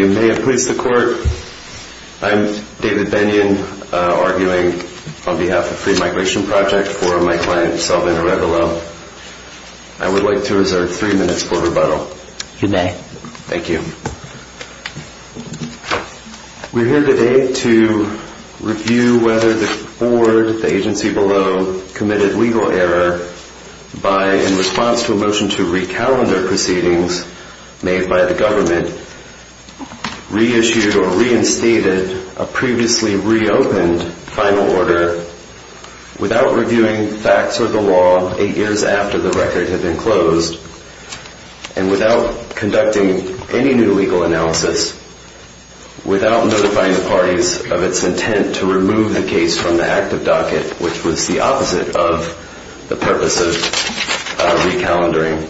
May it please the Court, I am David Bennion, arguing in favor of a motion to remove the recalendar proceedings made by the government, reissue or reinstated a previously reopened final order without reviewing facts or the law 8 years after the record had been closed and without conducting any new legal analysis, without notifying the parties of its intent to remove the case from the active docket, which was the opposite of the purpose of recalendaring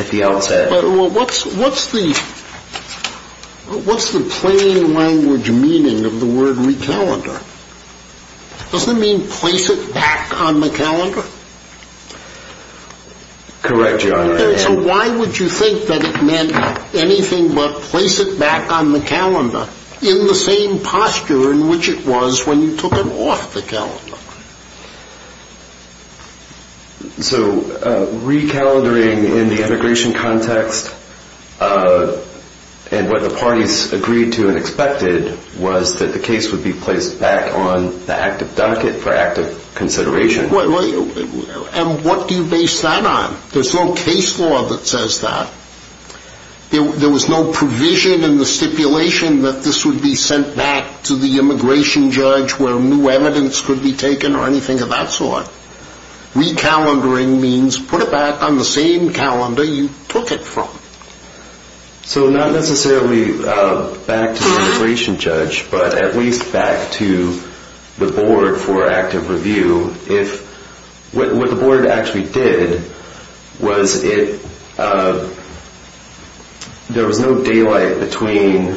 at the outset. But what's the plain language meaning of the word recalendar? Does it mean place it back on the calendar? Correct, Your Honor. So why would you think that it meant anything but place it back on the calendar in the same posture in which it was when you took it off the calendar? So recalendaring in the immigration context, and what the parties agreed to and expected was that the case would be placed back on the active docket for active consideration. And what do you base that on? There's no case law that says that. There was no provision in the stipulation that this would be sent back to the immigration judge where new evidence could be taken or anything of that sort. Recalendaring means put it back on the same calendar you took it from. So not necessarily back to the immigration judge, but at least back to the board for active review. What the board actually did was there was no daylight between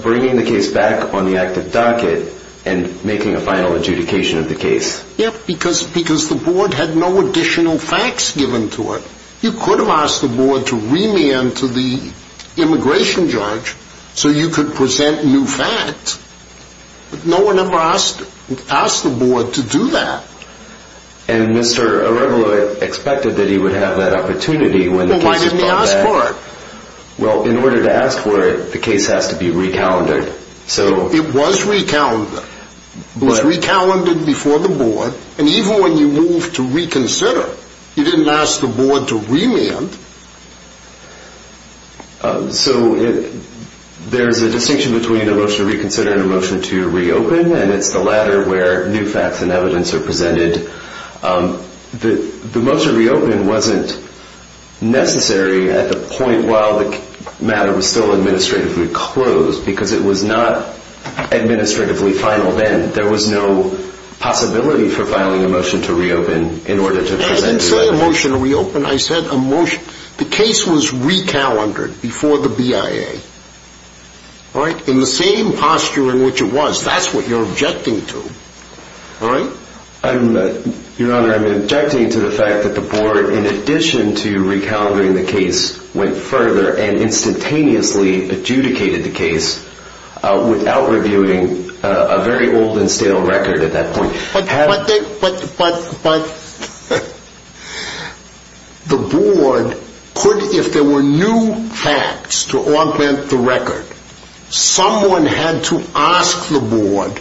bringing the case back on the active docket and making a final adjudication of the case. Yeah, because the board had no additional facts given to it. You could have asked the board to remand to the immigration judge so you could present new facts. But no one ever asked the board to do that. And Mr. Arevalo expected that he would have that opportunity when the case was brought back. Well, why didn't he ask for it? Well, in order to ask for it, the case has to be recalendared. It was recalendared. It was recalendared before the board. And even when you moved to reconsider, you didn't ask the board to remand. So there's a distinction between a motion to reconsider and a motion to reopen, and it's the latter where new facts and evidence are presented. The motion to reopen wasn't necessary at the point while the matter was still administratively closed because it was not administratively final then. There was no possibility for filing a motion to reopen in order to present the evidence. I didn't say a motion to reopen. I said a motion. The case was recalendared before the BIA, all right, in the same posture in which it was. That's what you're objecting to, all right? Your Honor, I'm objecting to the fact that the board, in addition to recalendering the case, went further and instantaneously adjudicated the case without reviewing a very old and stale record at that point. But the board could, if there were new facts to augment the record, someone had to ask the board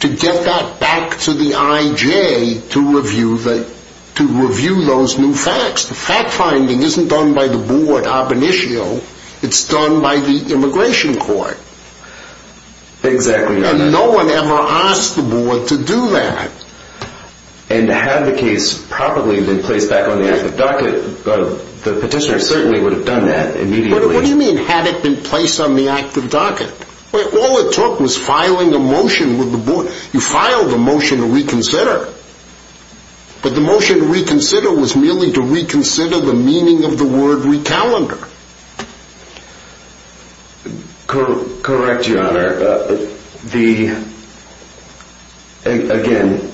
to get that back to the IJ to review those new facts. The fact-finding isn't done by the board ab initio. It's done by the immigration court. Exactly, Your Honor. And no one ever asked the board to do that. And had the case probably been placed back on the active docket, the petitioner certainly would have done that immediately. What do you mean, had it been placed on the active docket? All it took was filing a motion with the board. You filed a motion to reconsider, but the motion to reconsider was merely to reconsider the meaning of the word recalendar. Correct, Your Honor. Again,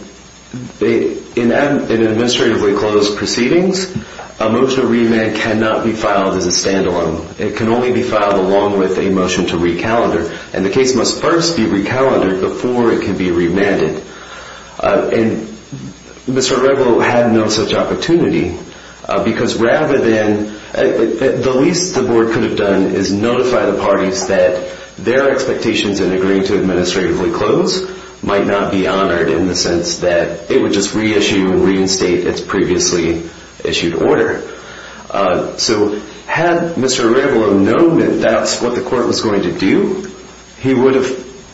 in administratively closed proceedings, a motion to remand cannot be filed as a stand-alone. It can only be filed along with a motion to recalendar, and the case must first be recalendared before it can be remanded. And Mr. Redwell had no such opportunity, because the least the board could have done is notify the parties that their expectations in agreeing to administratively close might not be honored in the sense that it would just reissue and reinstate its previously issued order. So had Mr. Redwell known that that's what the court was going to do,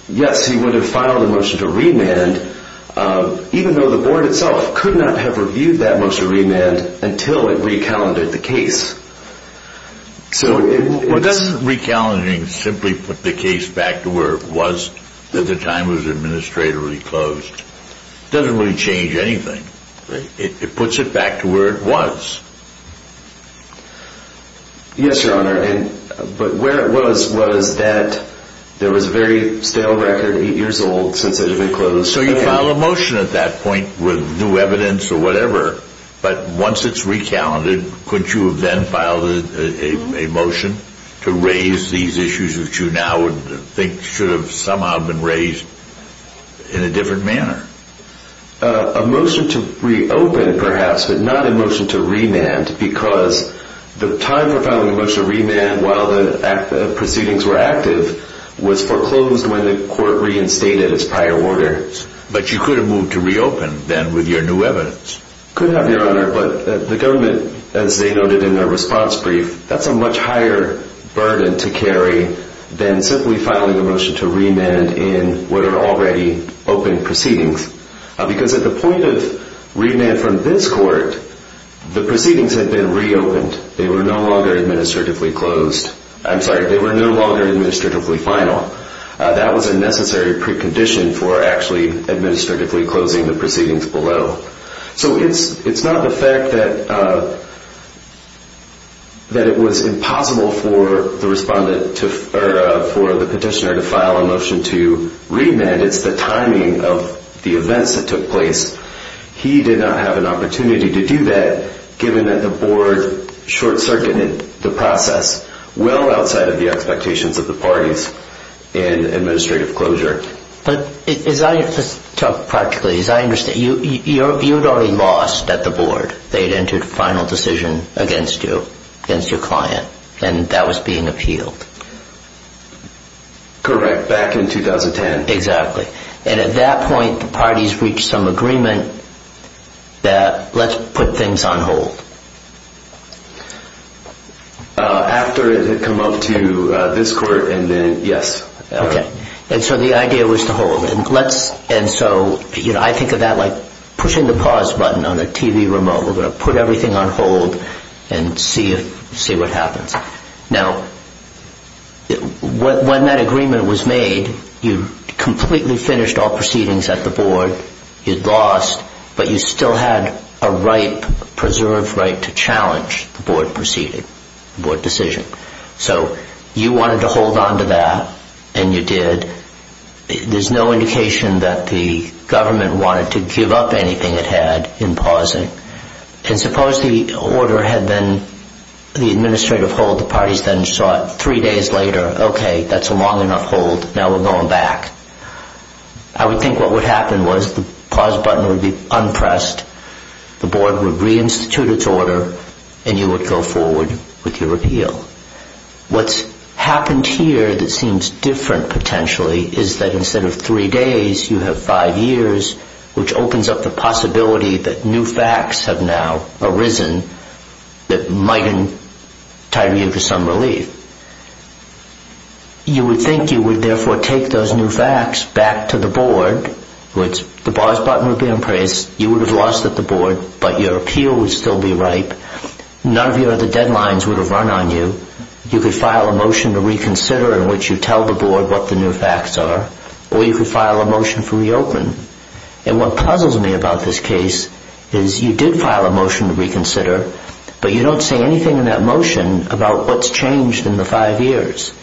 yes, he would have filed a motion to remand, even though the board itself could not have reviewed that motion to remand until it recalendared the case. So doesn't recalendar simply put the case back to where it was at the time it was administratively closed? It doesn't really change anything. It puts it back to where it was. Yes, Your Honor. But where it was was that there was a very stale record eight years old since it had been closed. So you file a motion at that point with new evidence or whatever, but once it's recalendared, couldn't you have then filed a motion to raise these issues that you now think should have somehow been raised in a different manner? A motion to reopen, perhaps, but not a motion to remand, because the time for filing a motion to remand while the proceedings were active was foreclosed when the court reinstated its prior order. But you could have moved to reopen then with your new evidence. Could have, Your Honor, but the government, as they noted in their response brief, that's a much higher burden to carry than simply filing a motion to remand in what are already open proceedings. Because at the point of remand from this court, the proceedings had been reopened. They were no longer administratively closed. I'm sorry, they were no longer administratively final. That was a necessary precondition for actually administratively closing the proceedings below. So it's not the fact that it was impossible for the petitioner to file a motion to remand. It's the timing of the events that took place. He did not have an opportunity to do that given that the board short-circuited the process well outside of the expectations of the parties in administrative closure. But as I talk practically, as I understand, you had already lost at the board. They had entered final decision against you, against your client, and that was being appealed. Correct, back in 2010. Exactly. And at that point, the parties reached some agreement that let's put things on hold. After it had come up to this court and then, yes. Okay. And so the idea was to hold. And so I think of that like pushing the pause button on a TV remote. We're going to put everything on hold and see what happens. Now, when that agreement was made, you completely finished all proceedings at the board. You'd lost, but you still had a right, preserved right, to challenge the board decision. So you wanted to hold on to that, and you did. There's no indication that the government wanted to give up anything it had in pausing. And suppose the order had been the administrative hold. The parties then saw it three days later. Okay, that's a long enough hold. Now we're going back. I would think what would happen was the pause button would be unpressed, the board would reinstitute its order, and you would go forward with your repeal. What's happened here that seems different potentially is that instead of three days, you have five years, which opens up the possibility that new facts have now arisen that might entitle you to some relief. You would think you would therefore take those new facts back to the board. The pause button would be unpressed. You would have lost at the board, but your appeal would still be ripe. None of your other deadlines would have run on you. You could file a motion to reconsider in which you tell the board what the new facts are, or you could file a motion to reopen. And what puzzles me about this case is you did file a motion to reconsider, but you don't say anything in that motion about what's changed in the five years.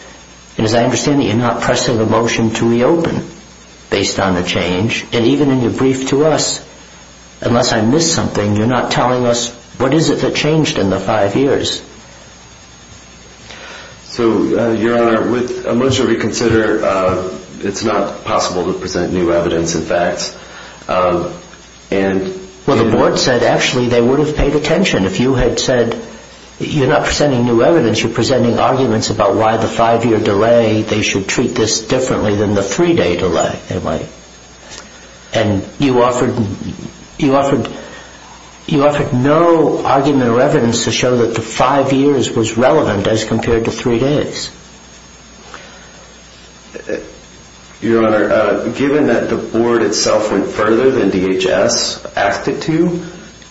And as I understand it, you're not pressing the motion to reopen based on the change. And even in your brief to us, unless I missed something, you're not telling us what is it that changed in the five years. So, Your Honor, with a motion to reconsider, it's not possible to present new evidence and facts. Well, the board said actually they would have paid attention. If you had said you're not presenting new evidence, you're presenting arguments about why the five-year delay, they should treat this differently than the three-day delay. And you offered no argument or evidence to show that the five years was relevant as compared to three days. Your Honor, given that the board itself went further than DHS asked it to,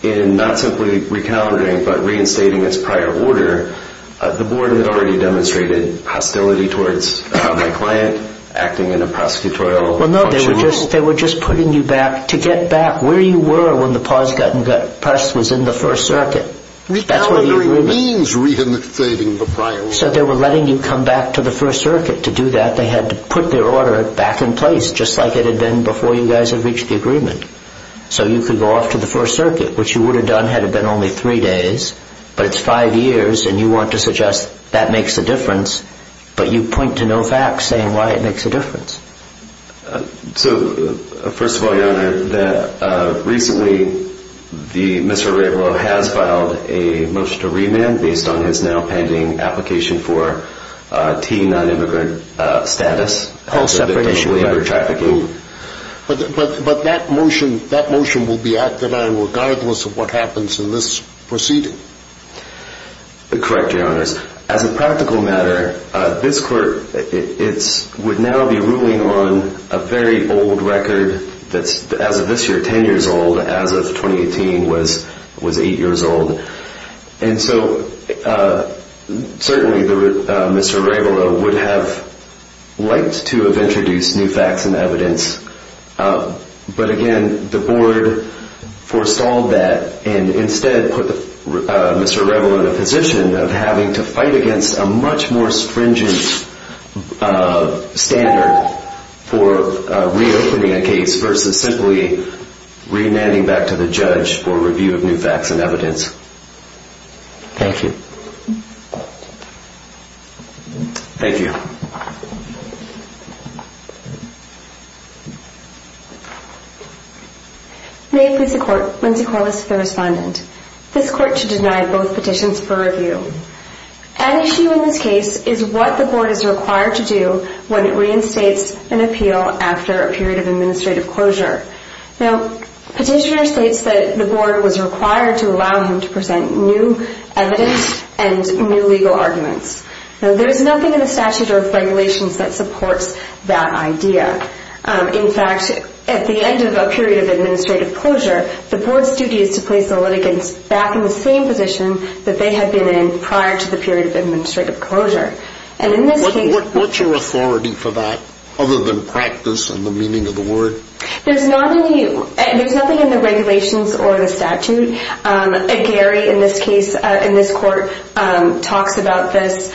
in not simply recalibrating but reinstating its prior order, the board had already demonstrated hostility towards my client acting in a prosecutorial way. Well, no, they were just putting you back to get back where you were when the pause was in the First Circuit. Recalibrating means reinstating the prior order. So they were letting you come back to the First Circuit. To do that, they had to put their order back in place, just like it had been before you guys had reached the agreement. So you could go off to the First Circuit, which you would have done had it been only three days. But it's five years, and you want to suggest that makes a difference. But you point to no facts saying why it makes a difference. So, first of all, Your Honor, recently, Mr. Arevalo has filed a motion to remand based on his now-pending application for T non-immigrant status. A whole separate issue. Under trafficking. But that motion will be acted on regardless of what happens in this proceeding. Correct, Your Honor. As a practical matter, this court would now be ruling on a very old record that's, as of this year, 10 years old, as of 2018 was 8 years old. And so, certainly, Mr. Arevalo would have liked to have introduced new facts and evidence. But, again, the board forestalled that and instead put Mr. Arevalo in a position of having to fight against a much more stringent standard for reopening a case versus simply remanding back to the judge for review of new facts and evidence. Thank you. Thank you. Thank you. May it please the court, Lindsay Corliss, the respondent. This court should deny both petitions for review. An issue in this case is what the board is required to do when it reinstates an appeal after a period of administrative closure. Now, petitioner states that the board was required to allow him to present new evidence and new legal arguments. Now, there's nothing in the statute or regulations that supports that idea. In fact, at the end of a period of administrative closure, the board's duty is to place the litigants back in the same position that they had been in prior to the period of administrative closure. And in this case... What's your authority for that, other than practice and the meaning of the word? There's nothing in the regulations or the statute. Gary, in this case, in this court, talks about this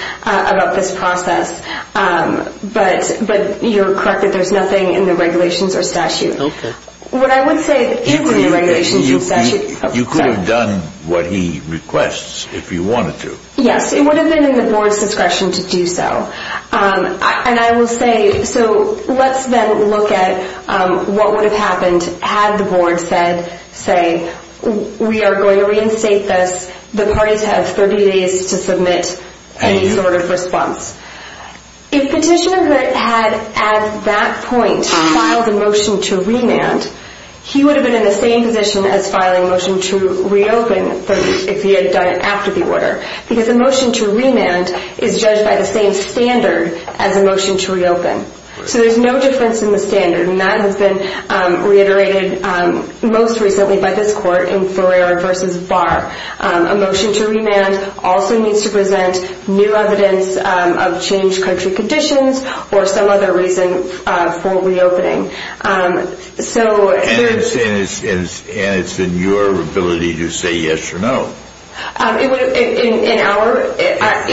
process. But you're correct that there's nothing in the regulations or statute. Okay. You could have done what he requests if you wanted to. Yes, it would have been in the board's discretion to do so. And I will say, so let's then look at what would have happened had the board said, say, we are going to reinstate this. The parties have 30 days to submit any sort of response. If petitioner had, at that point, filed a motion to remand, he would have been in the same position as filing a motion to reopen if he had done it after the order. Because a motion to remand is judged by the same standard as a motion to reopen. So there's no difference in the standard. And that has been reiterated most recently by this court in Ferrer v. Barr. A motion to remand also needs to present new evidence of changed country conditions or some other reason for reopening. And it's in your ability to say yes or no. It would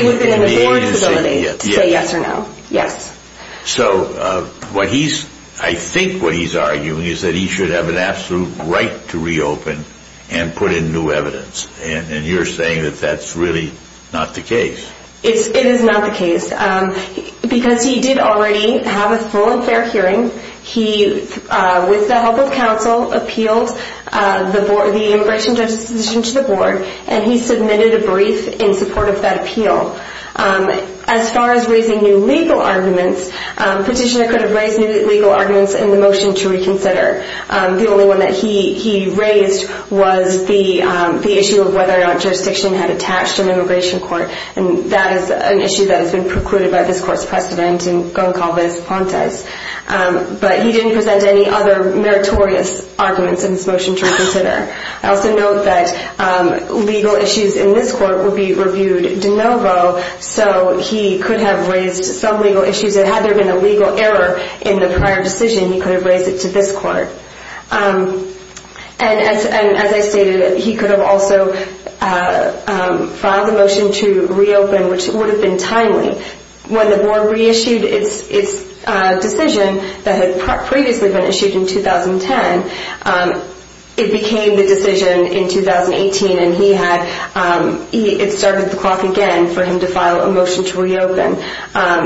have been in the board's ability to say yes or no, yes. So I think what he's arguing is that he should have an absolute right to reopen and put in new evidence. And you're saying that that's really not the case. It is not the case. Because he did already have a full and fair hearing. He, with the help of counsel, appealed the immigration judge's position to the board, and he submitted a brief in support of that appeal. As far as raising new legal arguments, Petitioner could have raised new legal arguments in the motion to reconsider. The only one that he raised was the issue of whether or not jurisdiction had attached to an immigration court. And that is an issue that has been precluded by this court's precedent in Goncalves v. Pontes. But he didn't present any other meritorious arguments in this motion to reconsider. I also note that legal issues in this court would be reviewed de novo, so he could have raised some legal issues. And had there been a legal error in the prior decision, he could have raised it to this court. And as I stated, he could have also filed the motion to reopen, which would have been timely. When the board reissued its decision that had previously been issued in 2010, it became the decision in 2018, and it started the clock again for him to file a motion to reopen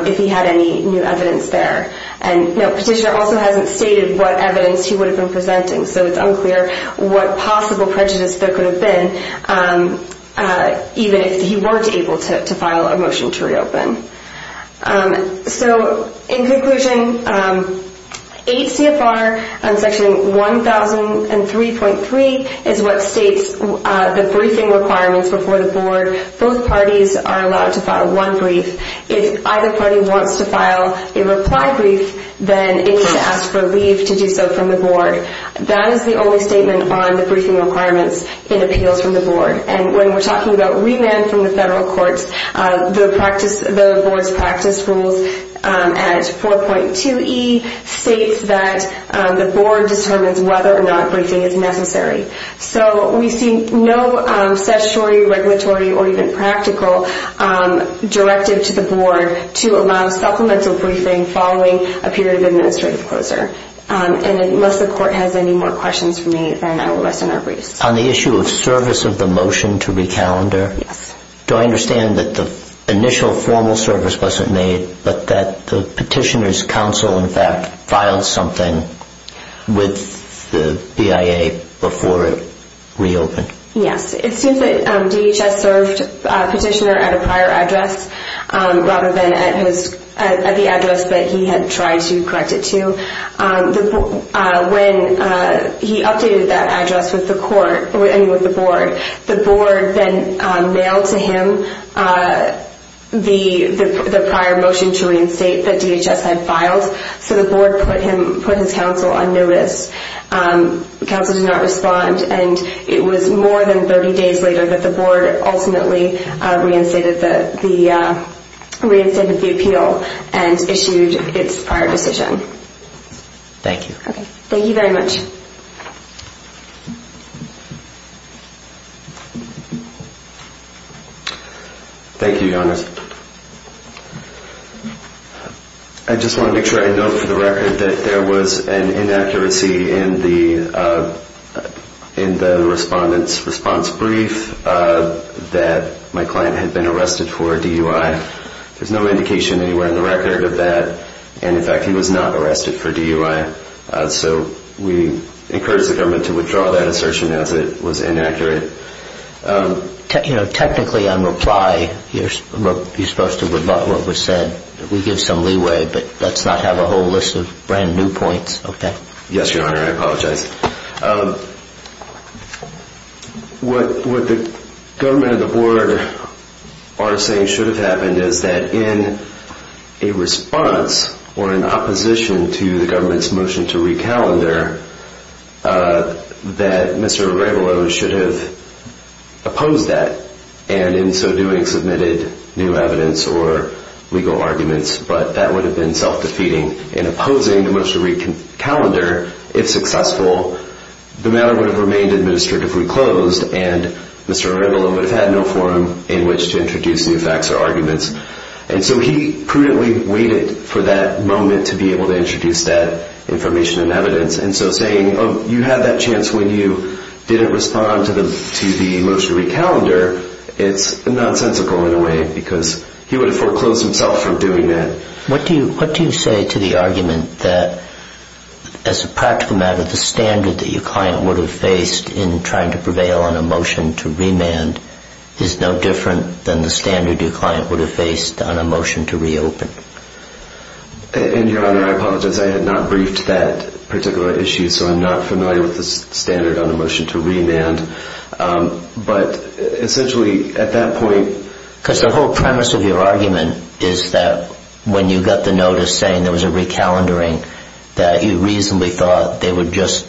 if he had any new evidence there. And Petitioner also hasn't stated what evidence he would have been presenting, so it's unclear what possible prejudice there could have been, even if he weren't able to file a motion to reopen. So, in conclusion, 8 CFR Section 1003.3 is what states the briefing requirements before the board. Both parties are allowed to file one brief. If either party wants to file a reply brief, then it needs to ask for leave to do so from the board. That is the only statement on the briefing requirements in appeals from the board. And when we're talking about remand from the federal courts, the board's practice rules at 4.2e states that the board determines whether or not briefing is necessary. So we see no statutory, regulatory, or even practical directive to the board to allow supplemental briefing following a period of administrative closure. And unless the court has any more questions for me, then I will listen or brief. On the issue of service of the motion to recalendar, do I understand that the initial formal service wasn't made, but that the petitioner's counsel, in fact, filed something with the BIA before it reopened? Yes. It seems that DHS served petitioner at a prior address rather than at the address that he had tried to correct it to. When he updated that address with the board, the board then mailed to him the prior motion to reinstate that DHS had filed. So the board put his counsel on notice. Counsel did not respond. And it was more than 30 days later that the board ultimately reinstated the appeal and issued its prior decision. Thank you. Thank you very much. Thank you, Your Honor. I just want to make sure I note for the record that there was an inaccuracy in the respondent's response brief that my client had been arrested for DUI. There's no indication anywhere in the record of that. And, in fact, he was not arrested for DUI. So we encourage the government to withdraw that assertion as it was inaccurate. Technically, on reply, you're supposed to rebut what was said. We give some leeway, but let's not have a whole list of brand-new points, okay? Yes, Your Honor. I apologize. What the government and the board are saying should have happened is that in a response or in opposition to the government's motion to recalendar, that Mr. Arevalo should have opposed that and in so doing submitted new evidence or legal arguments. But that would have been self-defeating. In opposing the motion to recalendar, if successful, the matter would have remained administratively closed and Mr. Arevalo would have had no forum in which to introduce new facts or arguments. And so he prudently waited for that moment to be able to introduce that information and evidence and so saying, oh, you had that chance when you didn't respond to the motion to recalendar, it's nonsensical in a way because he would have foreclosed himself from doing that. What do you say to the argument that, as a practical matter, the standard that your client would have faced in trying to prevail on a motion to remand is no different than the standard your client would have faced on a motion to reopen? And, Your Honor, I apologize. I had not briefed that particular issue, so I'm not familiar with the standard on a motion to remand. But essentially at that point... Because the whole premise of your argument is that when you got the notice saying there was a recalendaring, that you reasonably thought they would just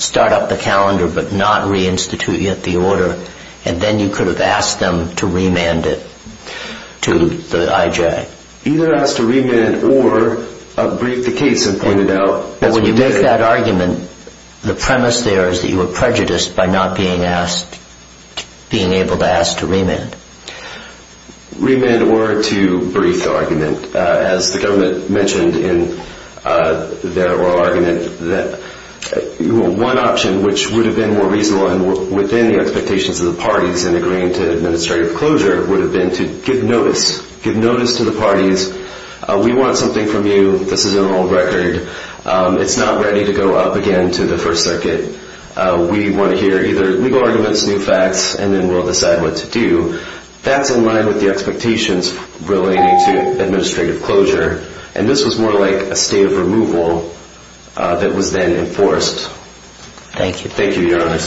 start up the calendar but not reinstitute yet the order and then you could have asked them to remand it to the IJ. Either ask to remand or brief the case and point it out as we did. But when you make that argument, the premise there is that you were prejudiced by not being asked, being able to ask to remand. Remand or to brief the argument. As the government mentioned in their oral argument, one option which would have been more reasonable within the expectations of the parties in agreeing to administrative closure would have been to give notice. Give notice to the parties. We want something from you. This is an oral record. It's not ready to go up again to the First Circuit. We want to hear either legal arguments, new facts, and then we'll decide what to do. That's in line with the expectations relating to administrative closure. And this was more like a state of removal that was then enforced. Thank you. Thank you, Your Honor.